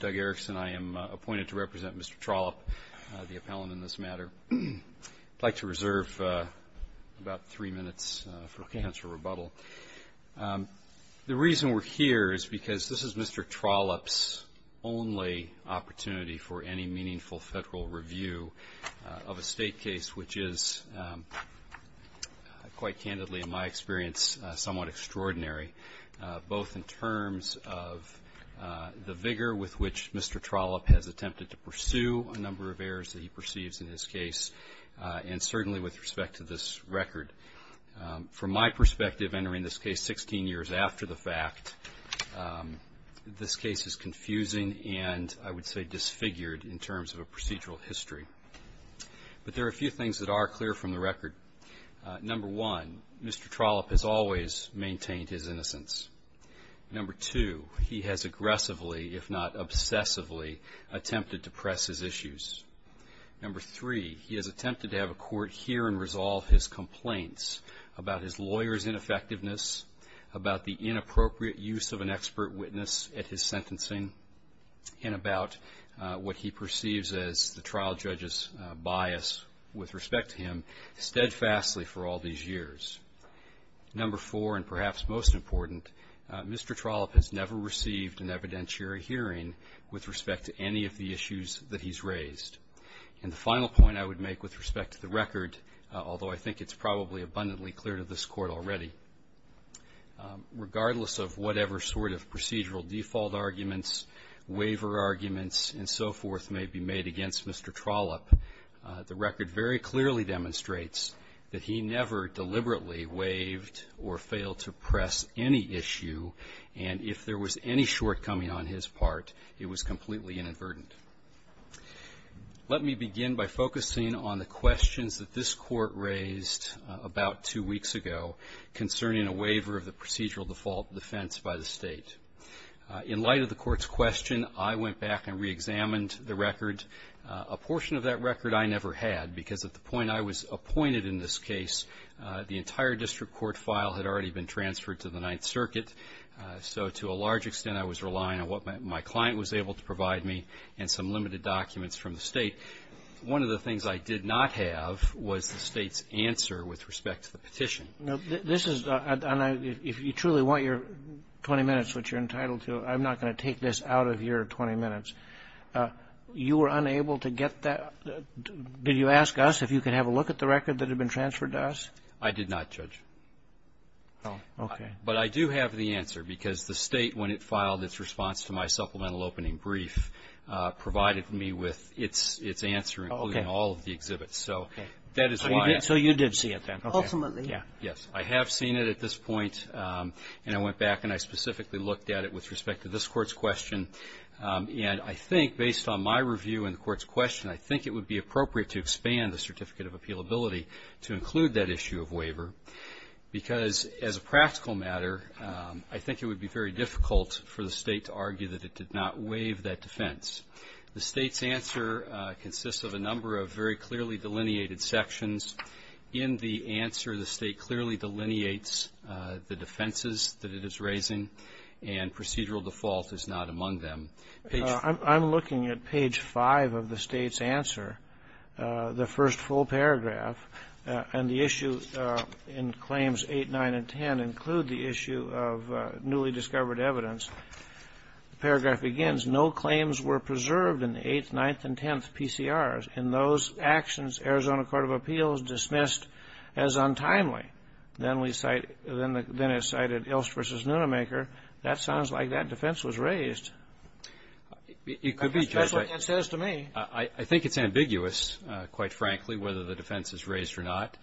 Duggerics, and I am appointed to represent Mr. Trollope, the appellant in this matter. I'd like to reserve about three minutes for counsel rebuttal. The reason we're here is because this is Mr. Trollope's only opportunity for any meaningful federal review of a state case which is, quite candidly in my experience, somewhat extraordinary, both in terms of the vigor with which Mr. Trollope has attempted to pursue a number of errors that he perceives in this case, and certainly with respect to this record. From my perspective, entering this case 16 years after the fact, this case is confusing and, I would say, disfigured in terms of a procedural history. But there are a few things that are clear from the record. Number one, Mr. Trollope has always maintained his innocence. Number two, he has aggressively, if not obsessively, attempted to press his issues. Number three, he has attempted to have a court hear and resolve his complaints about his lawyer's ineffectiveness, about the inappropriate use of an expert witness at his sentencing, and about what he perceives as the trial judge's bias with respect to him, steadfastly for all these years. Number four, and perhaps most important, Mr. Trollope has never received an evidentiary hearing with respect to any of the issues that he's raised. And the final point I would make with respect to the record, although I think it's probably abundantly clear to this Court already, regardless of whatever sort of procedural default arguments, waiver arguments, and so forth may be made against Mr. Trollope, the record very clearly demonstrates that he never deliberately waived or failed to press any issue, and if there was any shortcoming on his part, it was completely inadvertent. Let me begin by focusing on the questions that this Court raised about two weeks ago concerning a waiver of the procedural default defense by the State. In light of the Court's question, I went back and reexamined the record. A portion of that record I never had, because at the point I was appointed in this case, the entire district court file had already been transferred to the Ninth Circuit, so to a large extent I was relying on what my client was able to provide me and some limited documents from the State. One of the things I did not have was the State's answer with respect to the petition. This is, and I, if you truly want your 20 minutes, which you're entitled to, I'm not going to take this out of your 20 minutes. You were unable to get that, did you ask us if you could have a look at the record that had been transferred to us? I did not, Judge. Oh, okay. But I do have the answer, because the State, when it filed its response to my supplemental opening brief, provided me with its answer, including all of the exhibits, so that is why. So you did see it then, ultimately? Yes. I have seen it at this point, and I went back and I specifically looked at it with respect to this Court's question, and I think, based on my review and the Court's question, I think it would be appropriate to expand the Certificate of Appealability to include that issue of waiver, because, as a practical matter, I think it would be very difficult for the State to argue that it did not waive that defense. The State's answer consists of a number of very clearly delineated sections. In the answer, the State clearly delineates the defenses that it is raising, and procedural default is not among them. I'm looking at page 5 of the State's answer, the first full paragraph, and the issue in Claims 8, 9, and 10 include the issue of newly discovered evidence. The paragraph begins, No claims were preserved in the 8th, 9th, and 10th PCRs. In those actions, Arizona Court of Appeals dismissed as untimely. Then it cited Ilst v. Nunemaker. That sounds like that defense was raised. It could be, Judge. That's what it says to me. I think it's ambiguous, quite frankly, whether the defense is raised or not.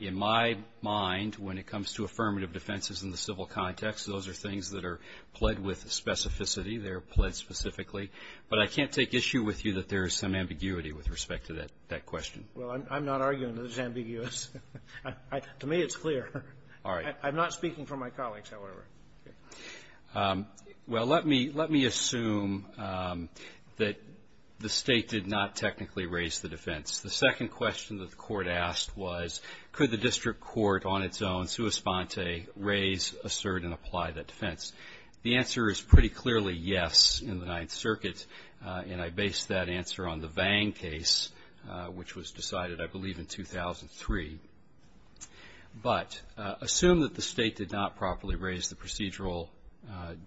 In my mind, when it comes to affirmative defenses in the civil context, those are things that are pled with specificity. They're pled specifically. But I can't take issue with you that there is some ambiguity with respect to that question. Well, I'm not arguing that it's ambiguous. To me, it's clear. All right. I'm not speaking for my colleagues, however. Well, let me assume that the State did not technically raise the defense. The second question that the Court asked was, could the district court on its own, sua sponte, raise, assert, and apply that defense? The answer is pretty clearly yes in the Ninth Circuit, and I based that answer on the Vang case, which was decided, I believe, in 2003. But assume that the State did not properly raise the procedural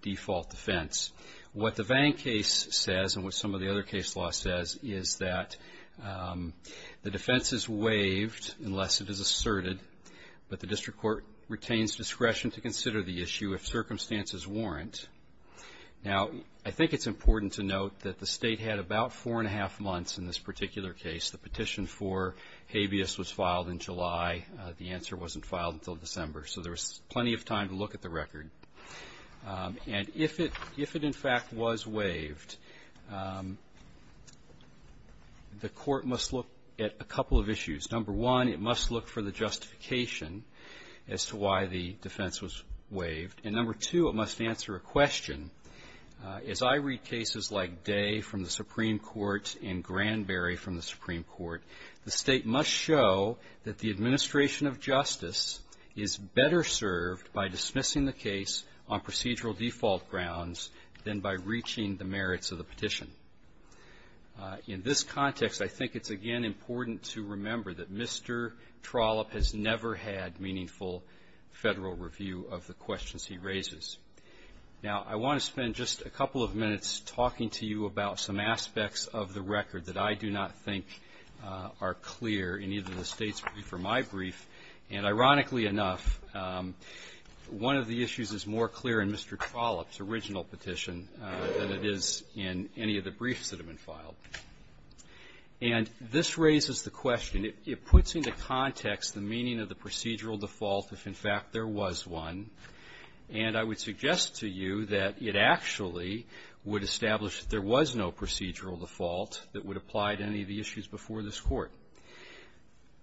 default defense. What the Vang case says, and what some of the other case law says, is that the defense is waived unless it is asserted, but the district court retains discretion to consider the issue if circumstances warrant. Now, I think it's important to note that the State had about four and a half months in this particular case. The petition for habeas was filed in July. The answer wasn't filed until December, so there was plenty of time to look at the record. And if it, if it in fact was waived, the Court must look at a couple of issues. Number one, it must look for the justification as to why the defense was waived. And number two, it must answer a question. As I read cases like Day from the Supreme Court and the Vang case, I found that the administration of justice is better served by dismissing the case on procedural default grounds than by reaching the merits of the petition. In this context, I think it's again important to remember that Mr. Trollope has never had meaningful federal review of the questions he raises. Now I want to spend just a couple of minutes talking to you about some aspects of the record that I do not think are clear in either the State's brief or my brief. And ironically enough, one of the issues is more clear in Mr. Trollope's original petition than it is in any of the briefs that have been filed. And this raises the question. It puts into context the meaning of the procedural default if, in fact, there was one. And I would suggest to you that it actually would establish that there was no procedural default that would apply to any of the issues before this Court.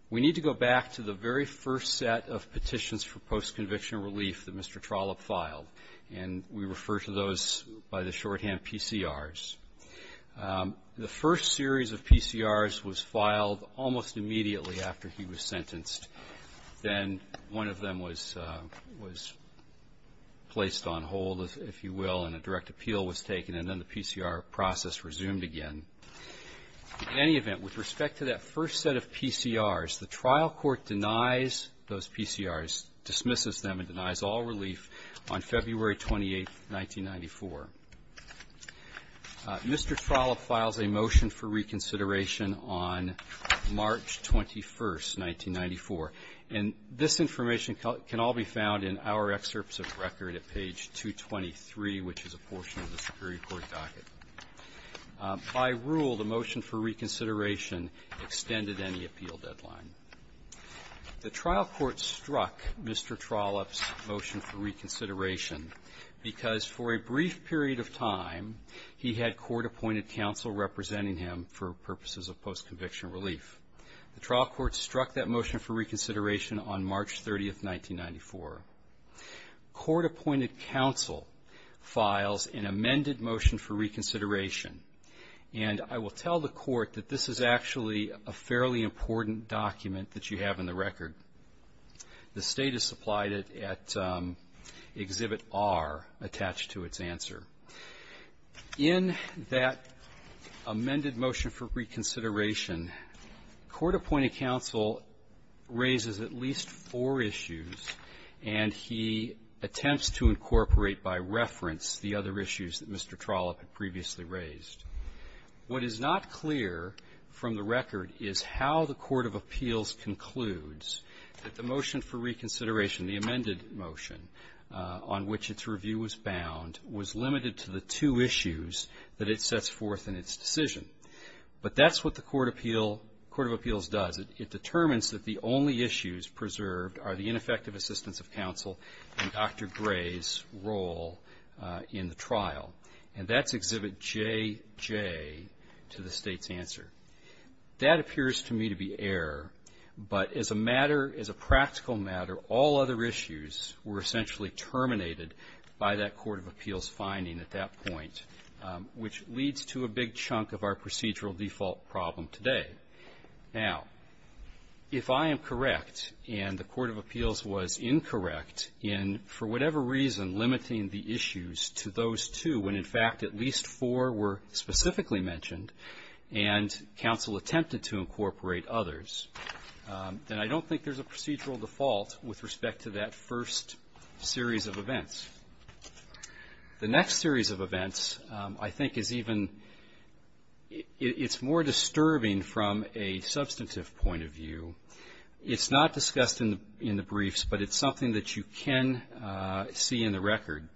We need to go back to the very first set of petitions for post-conviction relief that Mr. Trollope filed, and we refer to those by the shorthand PCRs. The first series of PCRs was filed almost immediately after he was sentenced. Then one of them was placed on hold, if you will, and a direct appeal was taken. And then the PCR process resumed again. In any event, with respect to that first set of PCRs, the trial court denies those PCRs, dismisses them, and denies all relief on February 28, 1994. Mr. Trollope files a motion for reconsideration on March 21, 1994. And this information can all be found in our excerpts of the record at page 223, which is a portion of the Superior Court docket. By rule, the motion for reconsideration extended any appeal deadline. The trial court struck Mr. Trollope's motion for reconsideration because for a brief period of time, he had court-appointed counsel representing him for purposes of post-conviction relief. The trial court struck that motion for reconsideration on March 30, 1994. Court-appointed counsel files an amended motion for reconsideration. And I will tell the court that this is actually a fairly important document that you have in the record. The State has supplied it at Exhibit R, attached to its answer. In that amended motion for reconsideration, court-appointed counsel raises at least four issues, and he attempts to incorporate by reference the other issues that Mr. Trollope had previously raised. What is not clear from the record is how the court of appeals concludes that the motion for reconsideration, the amended motion on which its review was bound, was limited to the two issues that it sets forth in its decision. But that's what the court of appeals does. It determines that the only issues preserved are the ineffective assistance of counsel and Dr. Gray's role in the trial. And that's Exhibit JJ to the State's answer. That appears to me to be error, but as a matter, as a practical matter, all other issues were essentially terminated by that court of appeals finding at that point, which leads to a big chunk of our procedural default problem today. Now, if I am correct and the court of appeals was incorrect in, for whatever reason, limiting the issues to those two when, in fact, at least four were specifically mentioned and counsel attempted to incorporate others, then I don't think there's a procedural default with respect to that first series of events. The next series of events I think is even, it's more disturbing from a substantive point of view. It's not discussed in the briefs, but it's something that you can see in the record.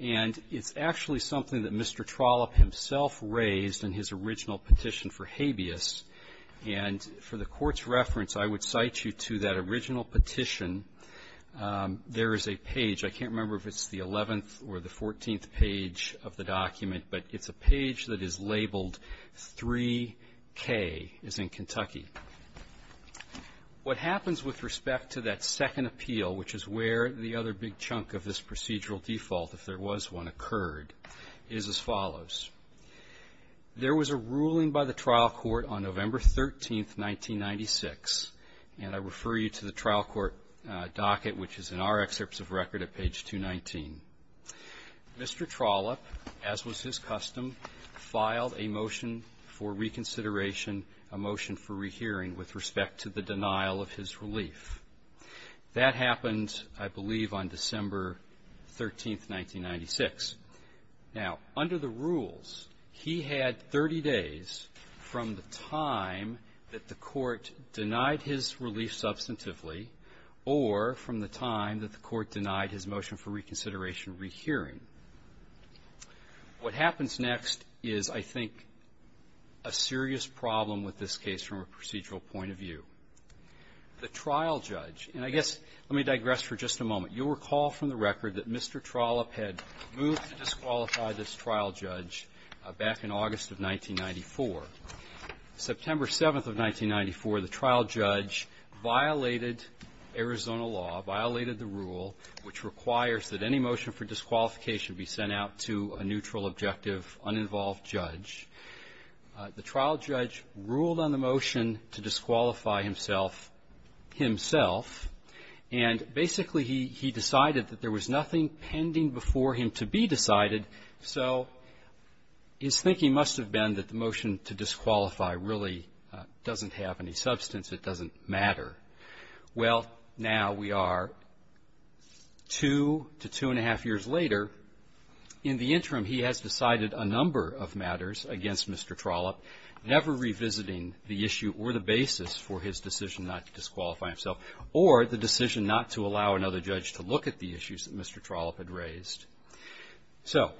And it's actually something that Mr. Trollope himself raised in his original petition for habeas and for the Court's reference, I would cite you to that original petition. There is a page, I can't remember if it's the 11th or the 14th page of the document, but it's a page that is labeled 3K is in Kentucky. What happens with respect to that second appeal, which is where the other big chunk of this procedural default, if there was one, occurred, is as follows. There was a ruling by the trial court on November 13th, 1996, and I refer you to the trial court docket, which is in our excerpts of record at page 219. Mr. Trollope, as was his custom, filed a motion for reconsideration, a motion for rehearing with respect to the denial of his relief. That happened, I believe, on December 13th, 1996. Now, under the rules, he had 30 days from the time that the Court denied his relief substantively or from the time that the Court denied his motion for reconsideration rehearing. What happens next is, I think, a serious problem with this case from a procedural point of view. The trial judge, and I guess let me digress for just a moment. You'll recall from the record that Mr. Trollope had moved to disqualify this trial judge back in August of 1994. September 7th of 1994, the trial judge violated Arizona law, violated the rule, which requires that any motion for disqualification be sent out to a neutral, objective, uninvolved judge. The trial judge ruled on the motion to disqualify himself. And basically, he did that by saying that he decided that there was nothing pending before him to be decided. So his thinking must have been that the motion to disqualify really doesn't have any substance. It doesn't matter. Well, now we are two to two-and-a-half years later. In the interim, he has decided a number of matters against Mr. Trollope, never revisiting the issue or the basis for his decision not to disqualify himself, or the decision not to allow another judge to look at the issues that Mr. Trollope had raised. So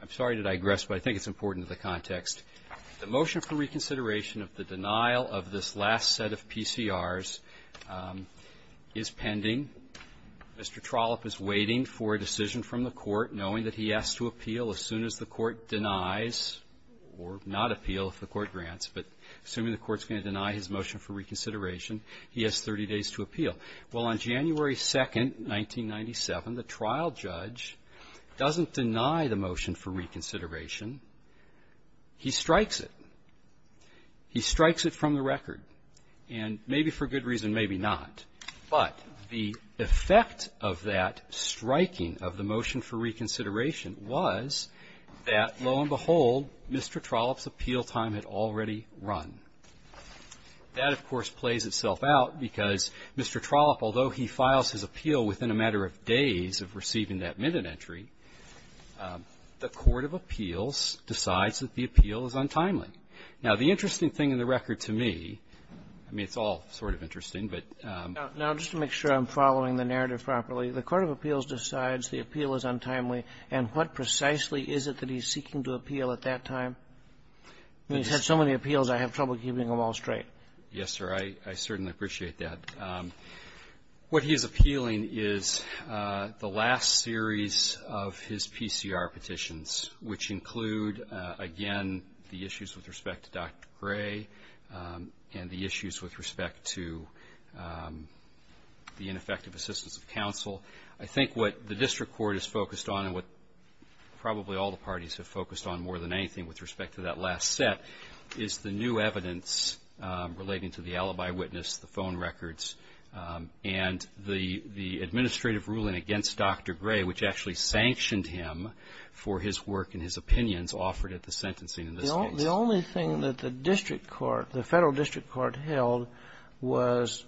I'm sorry to digress, but I think it's important to the context. The motion for reconsideration of the denial of this last set of PCRs is pending. Mr. Trollope is waiting for a decision from the court, knowing that he has to appeal as soon as the court denies, or not appeal if the court grants, but assuming the court's going to deny his motion for reconsideration, he has 30 days to appeal. Well, on January 2nd, 1997, the trial judge doesn't deny the motion for reconsideration. He strikes it. He strikes it from the record, and maybe for good reason, maybe not. But the effect of that striking of the motion for reconsideration was that, lo and behold, Mr. Trollope's appeal time had already run. That, of course, plays itself out, because Mr. Trollope, although he files his appeal within a matter of days of receiving that minute entry, the court of appeals decides that the appeal is untimely. Now, the interesting thing in the record to me, I mean, it's all sort of interesting, but Now, just to make sure I'm following the narrative properly, the court of appeals decides the appeal is untimely, and what precisely is it that he's seeking to appeal at that time? I mean, he's had so many appeals, I have trouble keeping them all straight. Yes, sir. I certainly appreciate that. What he is appealing is the last series of his PCR petitions, which include, again, the issues with respect to Dr. Gray and the issues with respect to the ineffective assistance of counsel. I think what the district court is focused on and what probably all the parties have focused on more than anything with respect to that last set is the new evidence relating to the alibi witness, the phone records, and the administrative ruling against Dr. Gray, which actually sanctioned him for his work and his opinions offered at the sentencing in this case. The only thing that the district court, the federal district court held was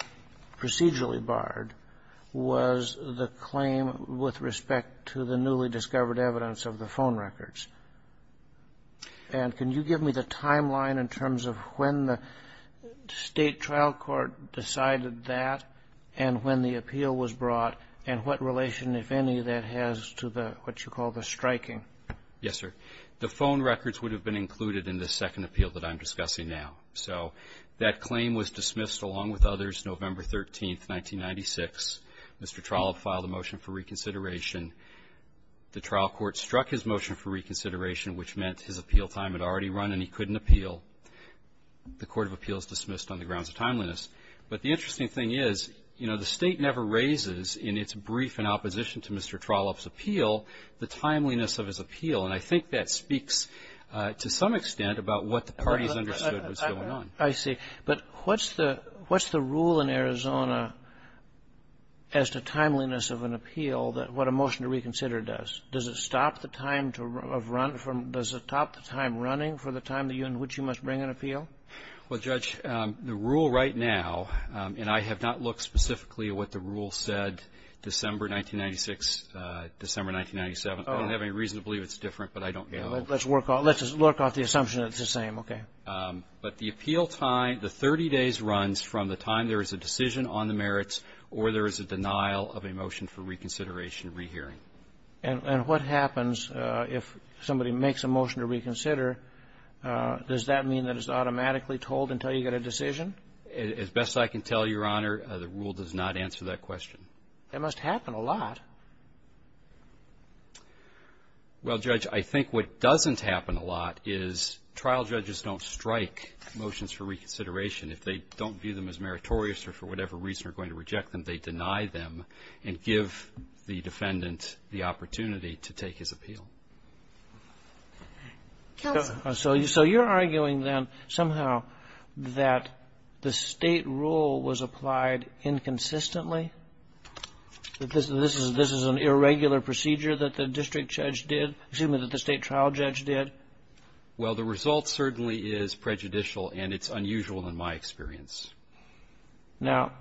procedurally barred was the phone records. And can you give me the timeline in terms of when the state trial court decided that, and when the appeal was brought, and what relation, if any, that has to what you call the striking? Yes, sir. The phone records would have been included in the second appeal that I'm discussing now. So, that claim was dismissed, along with others, November 13, 1996. Mr. Trollope filed a motion for reconsideration. The trial court struck his motion for reconsideration, which meant his appeal time had already run and he couldn't appeal. The court of appeals dismissed on the grounds of timeliness. But the interesting thing is, you know, the state never raises in its brief in opposition to Mr. Trollope's appeal the timeliness of his appeal. And I think that speaks to some extent about what the parties understood was going on. I see. But what's the rule in Arizona as to timeliness of an appeal, what a motion to reconsider is? What a motion to reconsider does? Does it stop the time of run from, does it stop the time running for the time in which you must bring an appeal? Well, Judge, the rule right now, and I have not looked specifically at what the rule said December 1996, December 1997. I don't have any reason to believe it's different, but I don't get it. Let's work off the assumption that it's the same. Okay. But the appeal time, the 30 days runs from the time there is a decision on the merits or there is a denial of a motion for reconsideration and rehearing. And what happens if somebody makes a motion to reconsider? Does that mean that it's automatically told until you get a decision? As best I can tell, Your Honor, the rule does not answer that question. It must happen a lot. Well, Judge, I think what doesn't happen a lot is trial judges don't strike motions for reconsideration. If they don't view them as meritorious or for whatever reason are going to reject them, they deny them and give the defendant the opportunity to take his appeal. So you're arguing then somehow that the State rule was applied inconsistently? That this is an irregular procedure that the district judge did, assuming that the State trial judge did? Well, the result certainly is prejudicial, and it's unusual in my experience. Now,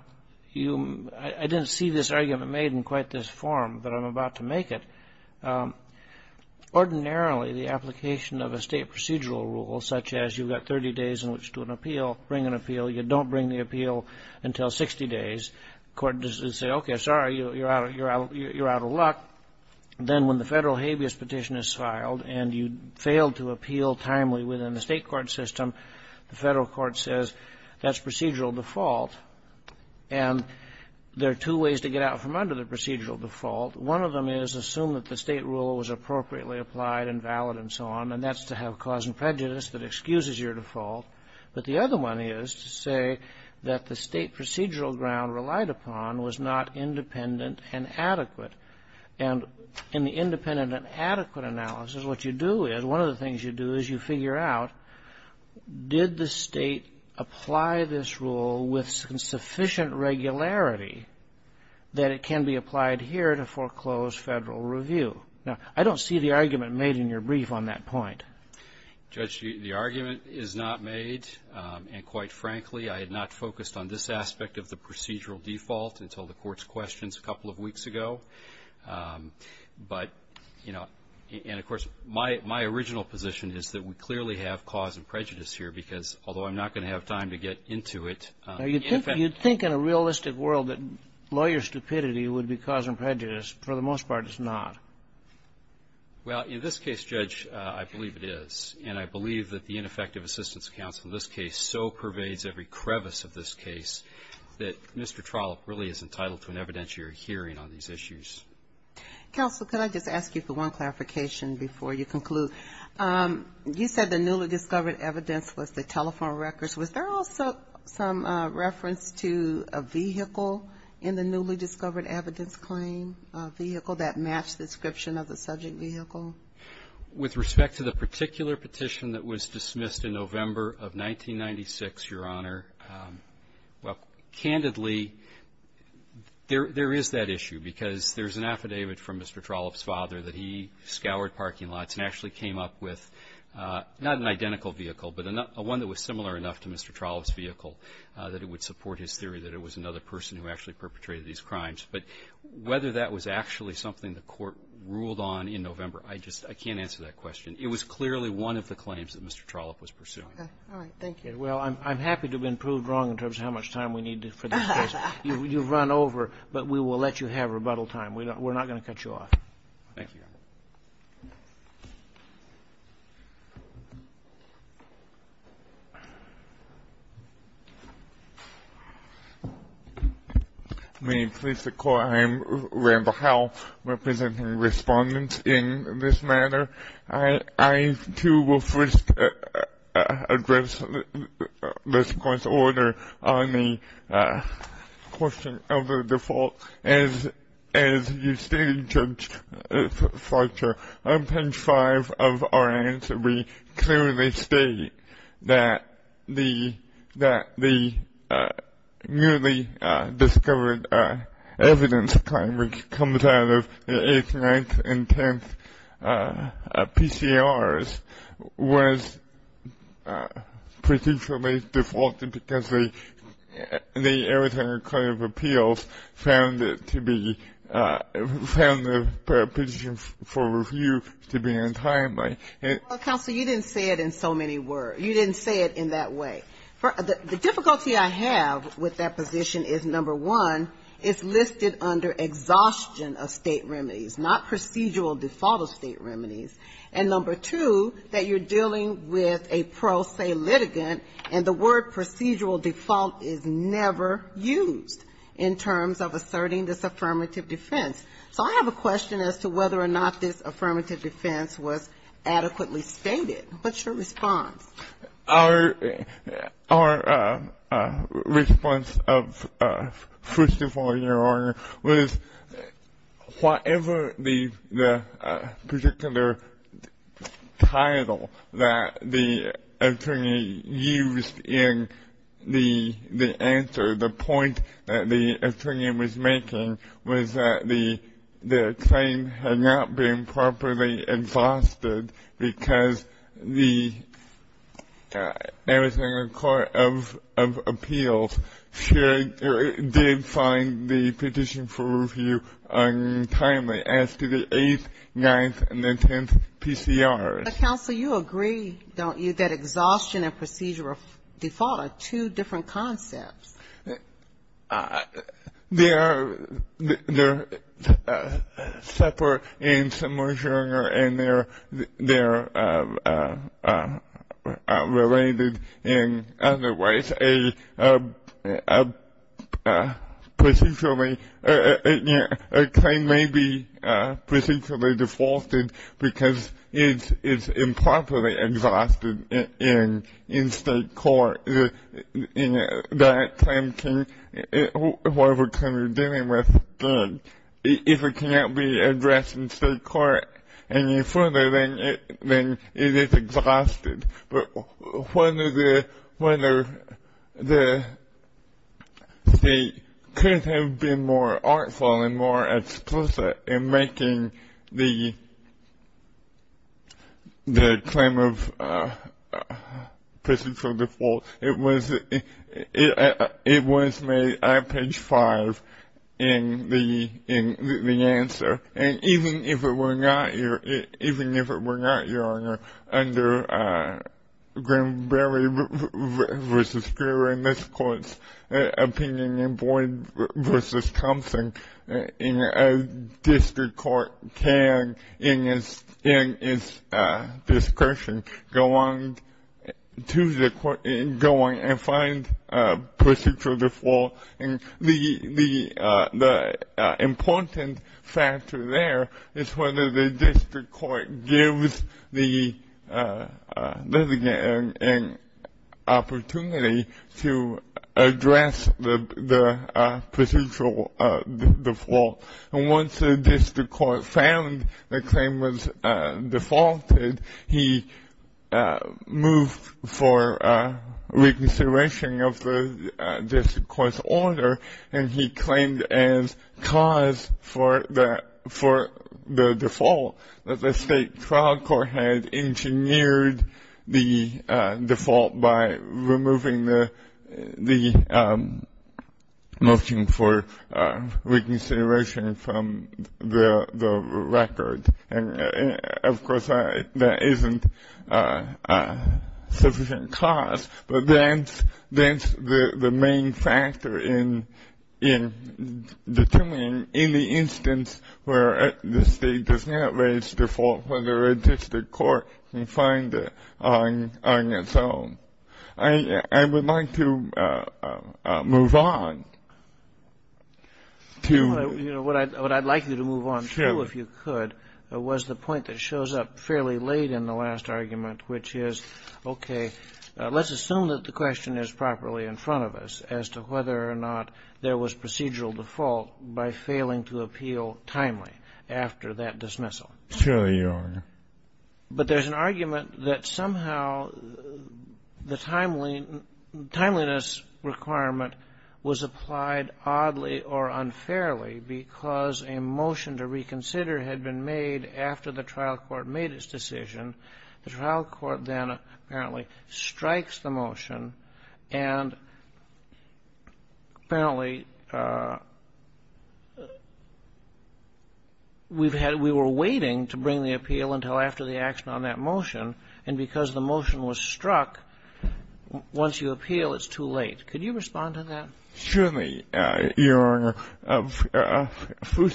I didn't see this argument made in quite this form, but I'm about to make it. Ordinarily, the application of a State procedural rule, such as you've got 30 days in which to do an appeal, bring an appeal, you don't bring the appeal until 60 days, the court says, okay, sorry, you're out of luck. Then when the federal habeas petition is filed and you failed to appeal timely within the State court system, the federal court says, that's procedural default. And there are two ways to get out from under the procedural default. One of them is assume that the State rule was appropriately applied and valid and so on, and that's to have cause and prejudice that excuses your default. But the other one is to say that the State procedural ground relied upon was not independent and adequate. And in the independent and adequate analysis, what you do is, one of the things you do is you figure out, did the State apply this rule with sufficient regularity that it can be applied here to foreclose federal review? Now, I don't see the argument made in your brief on that point. I don't see the argument made, and quite frankly, I had not focused on this aspect of the procedural default until the court's questions a couple of weeks ago. But, you know, and of course, my original position is that we clearly have cause and prejudice here, because although I'm not going to have time to get into it. You'd think in a realistic world that lawyer stupidity would be cause and prejudice. For the most part, it's not. In this case, so pervades every crevice of this case that Mr. Trollope really is entitled to an evidentiary hearing on these issues. Counsel, could I just ask you for one clarification before you conclude? You said the newly discovered evidence was the telephone records. Was there also some reference to a vehicle in the newly discovered evidence claim, a vehicle that matched the description of the subject vehicle? With respect to the particular petition that was dismissed in November of 1996, Your Honor, well, candidly, there is that issue, because there's an affidavit from Mr. Trollope's father that he scoured parking lots and actually came up with not an identical vehicle, but one that was similar enough to Mr. Trollope's vehicle that it would support his theory that it was another person who actually perpetrated these crimes. I can't answer that question. It was clearly one of the claims that Mr. Trollope was pursuing. All right. Thank you. Well, I'm happy to have been proved wrong in terms of how much time we need for this case. You've run over, but we will let you have rebuttal time. We're not going to cut you off. Thank you, Your Honor. May it please the Court, I am Randall Howell, representing respondents in this matter. I, too, will first address this court's order on the question of the default. As you stated, Judge Fletcher, on page 5 of our answer, we clearly state that the newly discovered evidence claim, which comes out of the 8th, 9th, and 10th PCRs, was procedurally defaulted because the Arizona Court of Appeals found it to be, found the position for review to be untimely. Counsel, you didn't say it in so many words. You didn't say it in that way. The difficulty I have with that position is, number one, it's listed under exhaustion of state remedies, not procedural default of state remedies. And, number two, that you're dealing with a pro se litigant, and the word procedural default is never used in terms of asserting this affirmative defense. So I have a question as to whether or not this affirmative defense was adequately stated. What's your response? Our response, first of all, Your Honor, was whatever the particular title that the attorney used in the answer, the point that the attorney was making was that the claim had not been properly exhausted because the Arizona Court of Appeals did find the position for review untimely as to the 8th, 9th, and the 10th PCRs. Counsel, you agree, don't you, that exhaustion and procedural default are two different concepts? They're separate in some ways, Your Honor, and they're related in other ways. A claim may be procedurally defaulted because it's improperly exhausted in state court. That claim can, whatever claim you're dealing with, if it cannot be addressed in state court any further, then it is exhausted. But whether the state could have been more artful and more explicit in making the claim of procedural default it was made at page 5 in the answer. And even if it were not, Your Honor, under Grimberry v. Grier in this court's opinion, and Boyd v. Thompson in a district court can, in its discretion, go on to the court and go on to the state court. And find procedural default. And the important factor there is whether the district court gives the litigant an opportunity to address the procedural default. And once the district court found the claim was defaulted, he moved for recourse to the state court. And he moved for reconsideration of the district court's order. And he claimed as cause for the default that the state trial court had engineered the default by removing the motion for reconsideration from the record. And, of course, that isn't a sufficient cause. But that's the main factor in determining any instance where the state does not raise default, whether a district court can find it on its own. I would like to move on. What I'd like you to move on to, if you could, was the point that shows up fairly late in the last argument, which is, okay, let's assume that the question is properly in front of us as to whether or not there was procedural default by failing to appeal timely after that dismissal. But there's an argument that somehow the timeliness requirement was applied to the district court. And it was applied oddly or unfairly because a motion to reconsider had been made after the trial court made its decision. The trial court then apparently strikes the motion, and apparently we've had we were waiting to bring the appeal until after the action on that motion. And because the motion was struck, once you appeal, it's too late. Could you respond to that? I'm not sure that I was surprised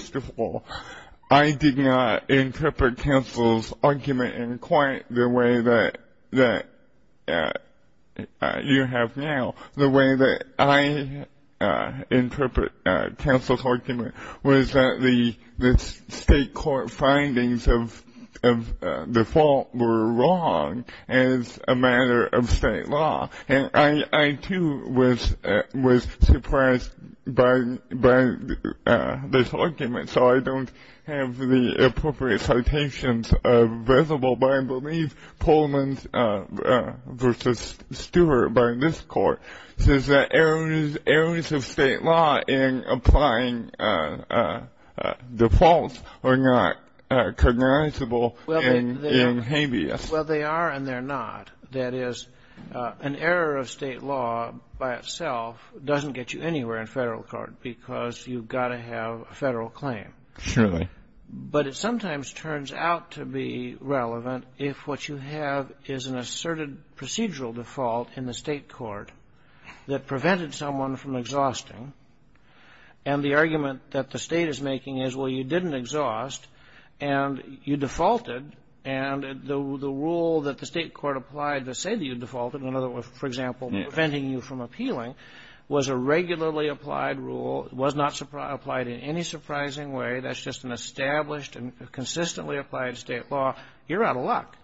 by this argument, so I don't have the appropriate citations visible, but I believe Coleman v. Stewart by this Court says that errors of state law in applying defaults are not cognizable in habeas. Well, they are and they're not. That is, an error of state law by itself doesn't get you anywhere in federal court, because you've got to have a federal claim. But it sometimes turns out to be relevant if what you have is an asserted procedural default in the state court that prevented someone from exhausting. And the argument that the state is making is, well, you didn't exhaust, and you defaulted, and the world is a mess. And the rule that the state court applied to say that you defaulted, in other words, for example, preventing you from appealing, was a regularly applied rule, was not applied in any surprising way, that's just an established and consistently applied state law, you're out of luck.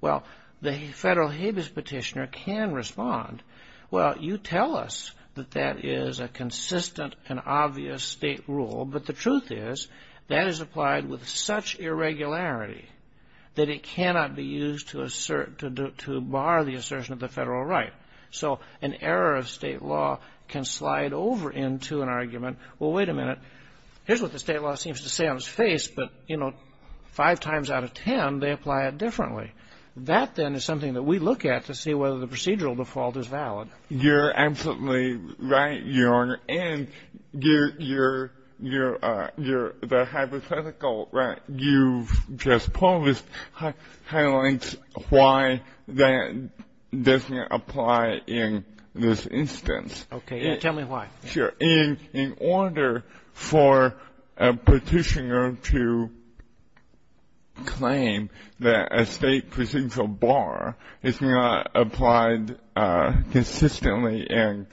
Well, the federal habeas petitioner can respond, well, you tell us that that is a consistent and obvious state rule, but the truth is, that is applied with such irregularity that it cannot be used to appeal. It cannot be used to assert, to bar the assertion of the federal right, so an error of state law can slide over into an argument, well, wait a minute, here's what the state law seems to say on its face, but five times out of ten, they apply it differently. That, then, is something that we look at to see whether the procedural default is valid. You're absolutely right, Your Honor, and you're, the hypothetical that you've just posed highlights a lot of things. Why that doesn't apply in this instance. Okay, tell me why. Sure. In order for a petitioner to claim that a state procedural bar is not applied consistently and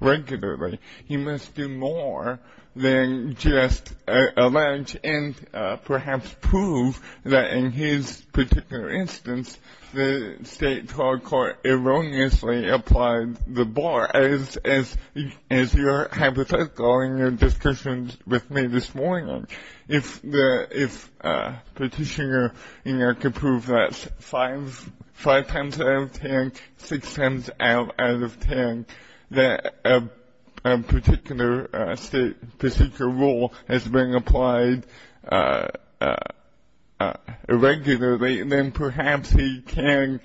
regularly, he must do more than just allege and perhaps prove that in his particular instance, the state procedural bar is not applied consistently and regularly. In this instance, the state trial court erroneously applied the bar, as your hypothetical in your discussions with me this morning. If a petitioner could prove that five times out of ten, six times out of ten, that a particular state procedural rule has been applied irregularly, then perhaps he could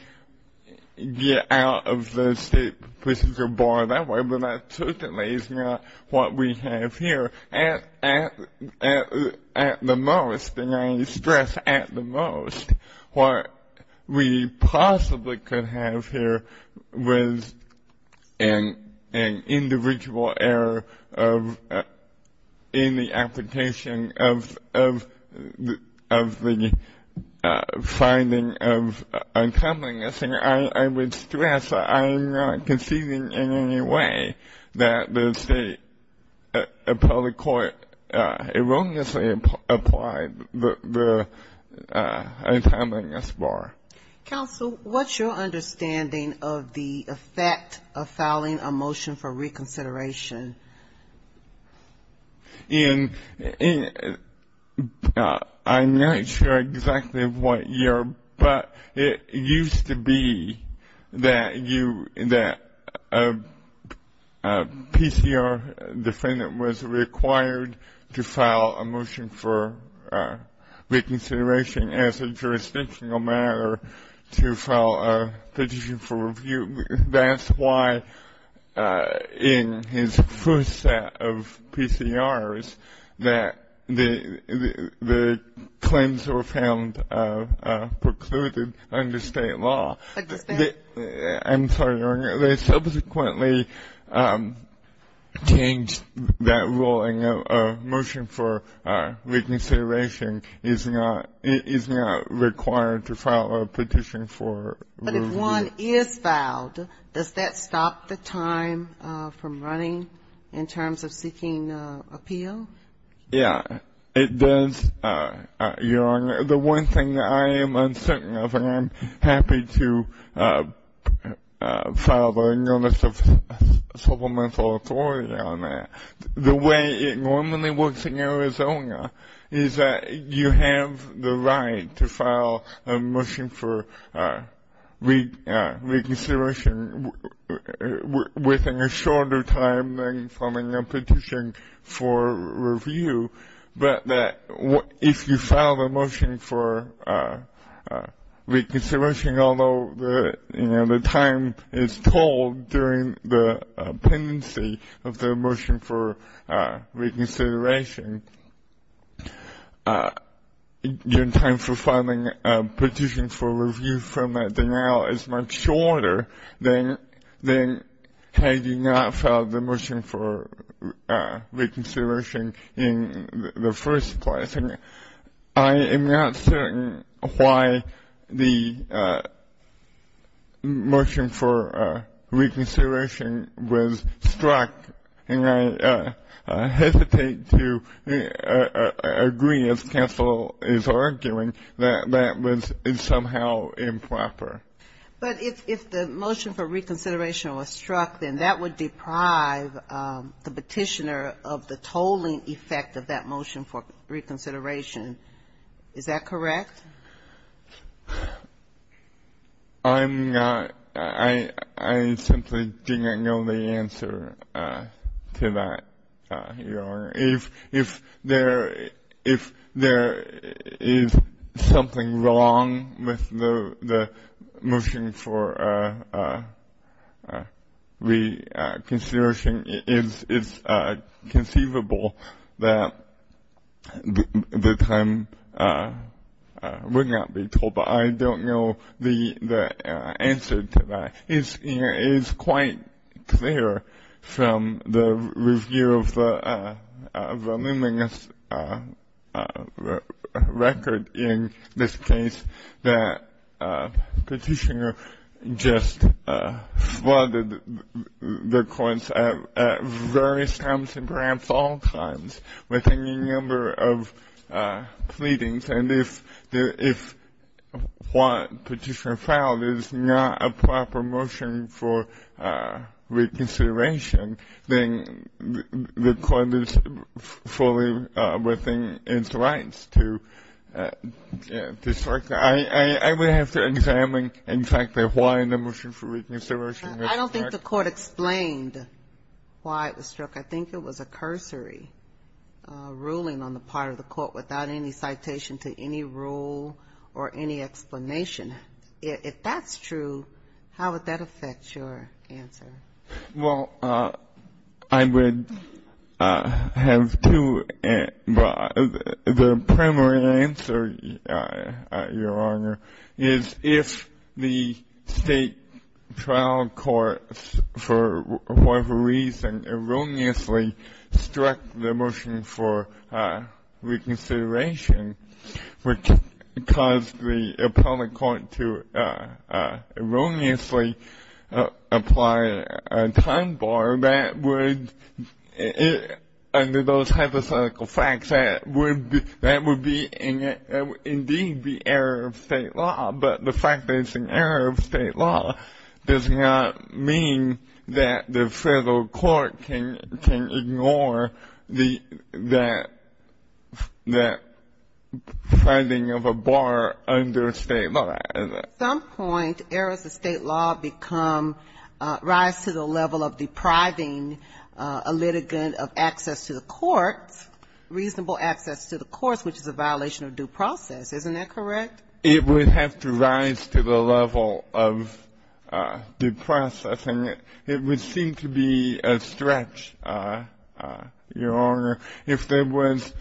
prove that the state procedural bar is not applied consistently and regularly. We can get out of the state procedural bar that way, but that certainly is not what we have here. At the most, and I stress at the most, what we possibly could have here was an individual error in the application of the finding of a state procedural rule. And I would stress that I am not conceding in any way that the state appellate court erroneously applied the untimeliness bar. Counsel, what's your understanding of the effect of filing a motion for reconsideration? I'm not sure exactly what your, but it is a motion for reconsideration. It used to be that a PCR defendant was required to file a motion for reconsideration as a jurisdictional matter to file a petition for review. That's why in his first set of PCRs that the claims were found precluded under the state procedural rule. I'm sorry, Your Honor, they subsequently changed that ruling. A motion for reconsideration is not required to file a petition for review. But if one is filed, does that stop the time from running in terms of seeking appeal? Yeah, it does, Your Honor. I'm happy to file a notice of supplemental authority on that. The way it normally works in Arizona is that you have the right to file a motion for reconsideration within a shorter time than filing a petition for review. But if you file a motion for reconsideration, although the time is told during the pendency of the motion for reconsideration, your time for filing a petition for review from that denial is much shorter than had you not filed the motion for reconsideration in Arizona. I'm not certain why the motion for reconsideration was struck, and I hesitate to agree, as counsel is arguing, that that was somehow improper. But if the motion for reconsideration was struck, then that would deprive the petitioner of the tolling effect of that motion. I'm not sure why the motion for reconsideration was struck, and I hesitate to agree, as counsel is arguing, that that would deprive the petitioner of the tolling effect of that motion for reconsideration. Is that correct? I simply do not know the answer to that, Your Honor. If there is something wrong with the motion for reconsideration, it's conceivable that the motion for reconsideration would be struck. The time would not be told, but I don't know the answer to that. It is quite clear from the review of the luminous record in this case that the petitioner just flooded the courts at various times and perhaps all times, within a number of pleadings, and if what petitioner filed is not a proper motion for reconsideration, then the court is fully within its rights to strike that. I would have to examine, in fact, why the motion for reconsideration was struck. If the court explained why it was struck, I think it was a cursory ruling on the part of the court without any citation to any rule or any explanation. If that's true, how would that affect your answer? Well, I would have to, but the primary answer, Your Honor, is if the state trial court says that the motion for reconsideration for whatever reason erroneously struck the motion for reconsideration, which caused the appellate court to erroneously apply a time bar, that would, under those hypothetical facts, that would indeed be error of state law. But the fact that it's an error of state law does not mean that the federal court can ignore that finding of a bar under state law. At some point, errors of state law become, rise to the level of depriving a litigant of access to the courts, reasonable access to the courts, which is a violation of due process. Isn't that correct? It would have to rise to the level of due process. And it would seem to be a stretch, Your Honor, if there was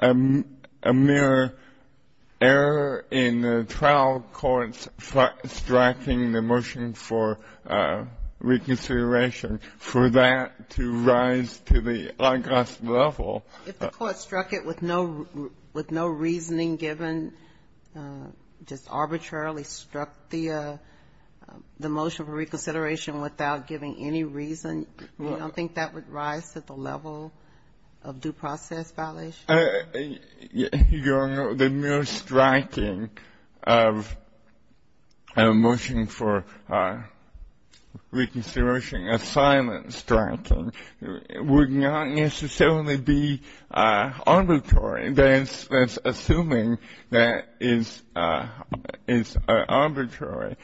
a mere error in the trial court striking the motion for reconsideration, for that to rise to the august level. If the court struck it with no reasoning given, just arbitrarily struck the motion for reconsideration without giving any reason, you don't think that would rise to the level of due process violation? Your Honor, the mere striking of a motion for reconsideration, a silent striking, would not necessarily be arbitrary. That's assuming that it's arbitrary.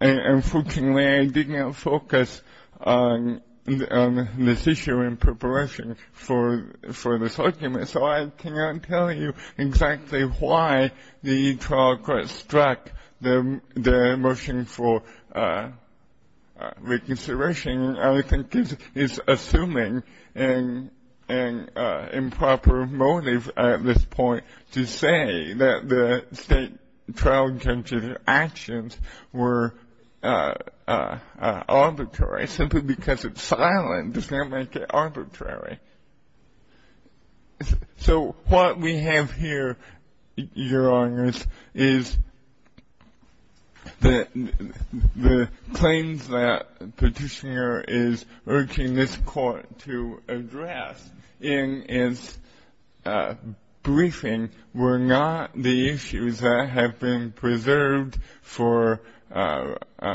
Unfortunately, I did not focus on this issue in preparation for this argument, so I cannot tell you exactly why the trial court struck the motion for reconsideration. I think it's assuming an improper motive at this point to say that the state trial judge's actions were arbitrary, simply because it's silent does not make it arbitrary. So what we have here, Your Honor, is the claims that Petitioner is making, the claims that Petitioner is making, the claims that Petitioner is urging this court to address in its briefing, were not the issues that have been preserved for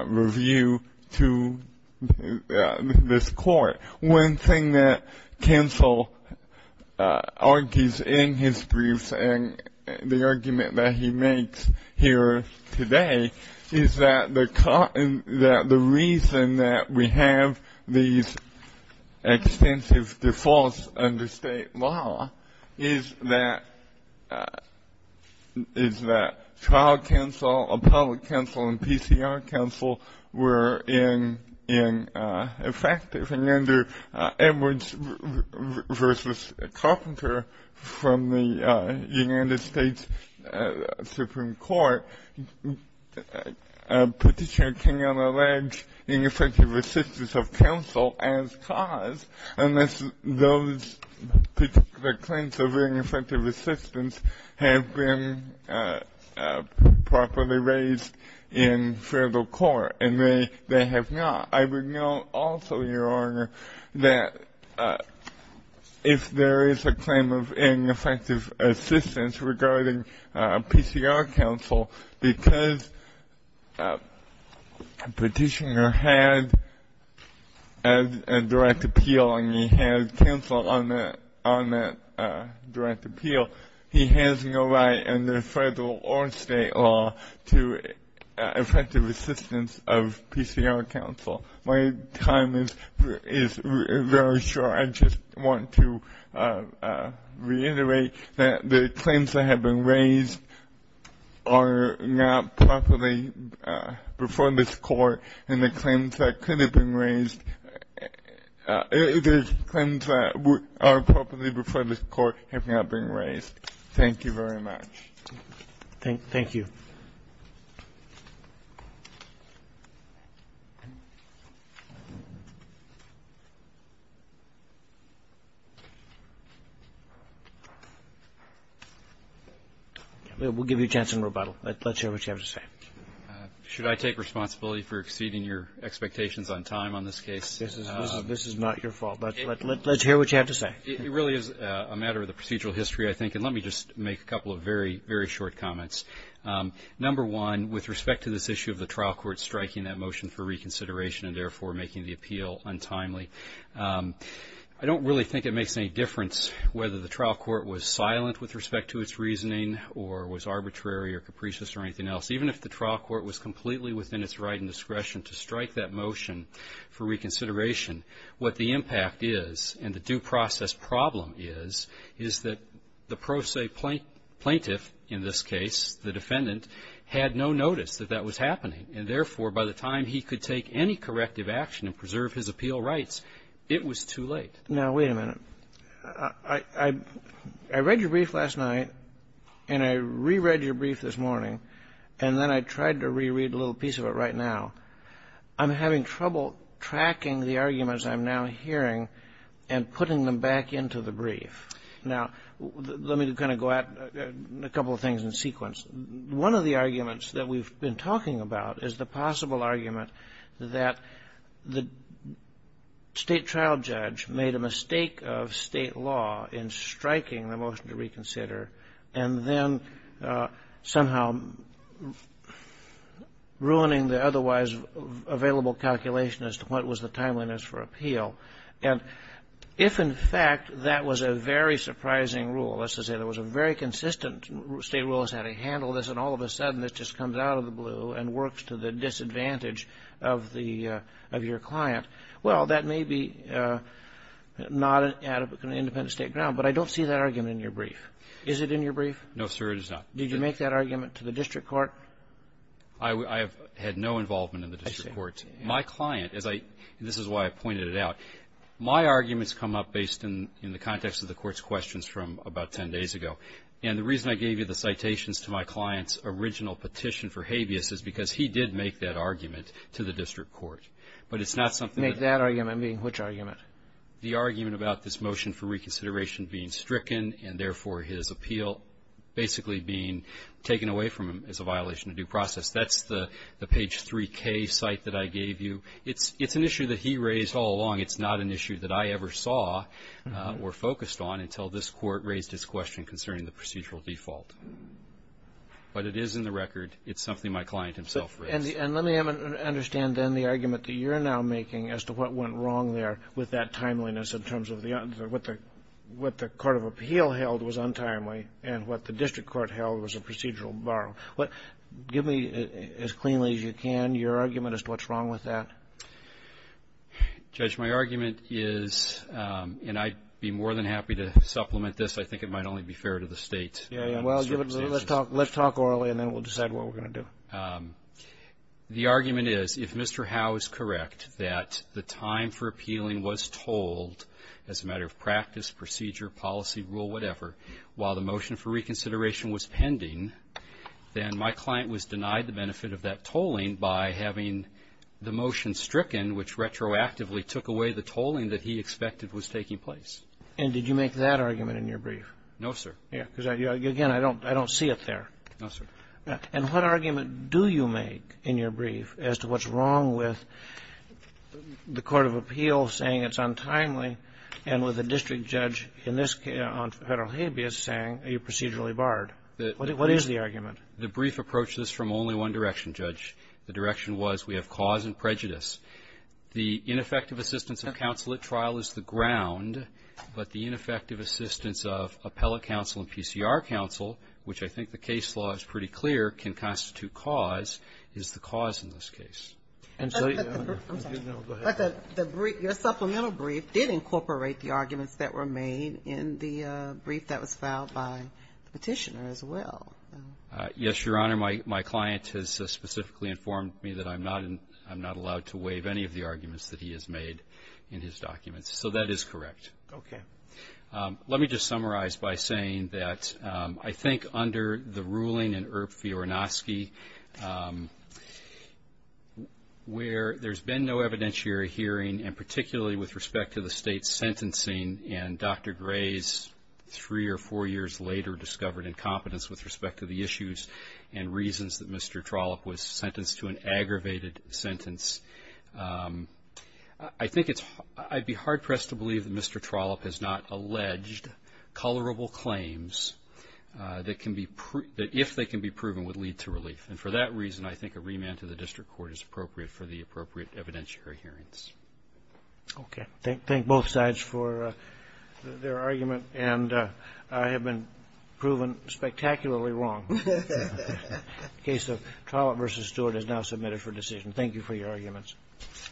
review to this court. One thing that Cancel argues in his briefs and the argument that he makes here today is that the reason that we have these extensive defaults under state law is that trial counsel, appellate counsel, and PCR counsel were in effect. And under Edwards v. Carpenter from the United States Supreme Court, Petitioner cannot allege ineffective assistance of counsel as cause unless those particular claims of ineffective assistance have been properly raised in federal court. And they have not. I would note also, Your Honor, that if there is a claim of ineffective assistance regarding PCR counsel, because Petitioner had a direct appeal and he had counsel on that direct appeal, he has no right under federal or state law to effective assistance of PCR counsel. My time is very short. I just want to reiterate that the claims that have been raised are not properly before this court, and the claims that could have been raised, the claims that are properly before this court have not been raised. Thank you very much. We'll give you a chance in rebuttal. Let's hear what you have to say. Should I take responsibility for exceeding your expectations on time on this case? This is not your fault. Let's hear what you have to say. It really is a matter of the procedural history, I think, and let me just make a couple of very, very short comments. Number one, with respect to this issue of the trial court striking that motion for reconsideration and therefore making the appeal untimely, I don't really think it makes any difference whether the trial court was silent with respect to its reasoning or was arbitrary or capricious or anything else. Even if the trial court was completely within its right and discretion to strike that motion for reconsideration, I think what the impact is and the due process problem is, is that the pro se plaintiff, in this case, the defendant, had no notice that that was happening, and therefore, by the time he could take any corrective action and preserve his appeal rights, it was too late. Now, wait a minute. I read your brief last night, and I reread your brief this morning, and then I tried to reread a little piece of it right now. I'm having trouble tracking the arguments I'm now hearing and putting them back into the brief. Now, let me kind of go at a couple of things in sequence. One of the arguments that we've been talking about is the possible argument that the state trial judge made a mistake of state law in striking the motion to reconsider, and then somehow ruining the otherwise reasonable available calculation as to what was the timeliness for appeal. And if, in fact, that was a very surprising rule, let's just say there was a very consistent state rule as to how to handle this, and all of a sudden this just comes out of the blue and works to the disadvantage of the of your client, well, that may be not an independent State ground, but I don't see that argument in your brief. Is it in your brief? No, sir, it is not. Did you make that argument to the district court? I have had no involvement in the district court. My client, as I — this is why I pointed it out. My arguments come up based in the context of the Court's questions from about 10 days ago. And the reason I gave you the citations to my client's original petition for habeas is because he did make that argument to the district court. But it's not something that — Make that argument? I mean, which argument? The argument about this motion for reconsideration being stricken and, therefore, his appeal basically being taken away from him as a violation of due process. That's the page 3K cite that I gave you. It's an issue that he raised all along. It's not an issue that I ever saw or focused on until this Court raised this question concerning the procedural default. But it is in the record. It's something my client himself raised. And let me understand, then, the argument that you're now making as to what went wrong there with that timeliness in terms of what the Court of Appeal held was untimely and what the district court held was a procedural borrow. Give me as cleanly as you can your argument as to what's wrong with that. Judge, my argument is — and I'd be more than happy to supplement this. I think it might only be fair to the States. Well, let's talk orally, and then we'll decide what we're going to do. The argument is, if Mr. Howe is correct that the time for appealing was told as a matter of practice, procedure, policy, rule, whatever, while the motion for reconsideration was pending, then my client was denied the benefit of that tolling by having the motion stricken, which retroactively took away the tolling that he expected was taking place. And did you make that argument in your brief? No, sir. Because, again, I don't see it there. No, sir. And what argument do you make in your brief as to what's wrong with the Court of Appeal saying it's untimely and with the district judge in this — on federal habeas saying you're procedurally barred? What is the argument? The brief approached this from only one direction, Judge. The direction was we have cause and prejudice. The ineffective assistance of counsel at trial is the ground, but the ineffective assistance of appellate counsel and PCR counsel, which I think the case law is pretty clear can constitute cause, is the cause in this case. I'm sorry. No, go ahead. But your supplemental brief did incorporate the arguments that were made in the brief that was filed by the petitioner as well. Yes, Your Honor. My client has specifically informed me that I'm not allowed to waive any of the arguments that he has made in his documents. So that is correct. Okay. Let me just summarize by saying that I think under the ruling in Erb-Fiorinowski, where there's been no evidentiary hearing, and particularly with respect to the state's sentencing and Dr. Gray's three or four years later discovered incompetence with respect to the issues and reasons that Mr. Trollope was sentenced to an aggravated sentence, I think it's – I'd be hard-pressed to believe that Mr. Trollope has not alleged colorable claims that can be – that if they can be proven would lead to relief. And for that reason, I think a remand to the district court is appropriate for the appropriate evidentiary hearings. Okay. Thank both sides for their argument. And I have been proven spectacularly wrong. The case of Trollope v. Stewart is now submitted for decision. Thank you for your arguments.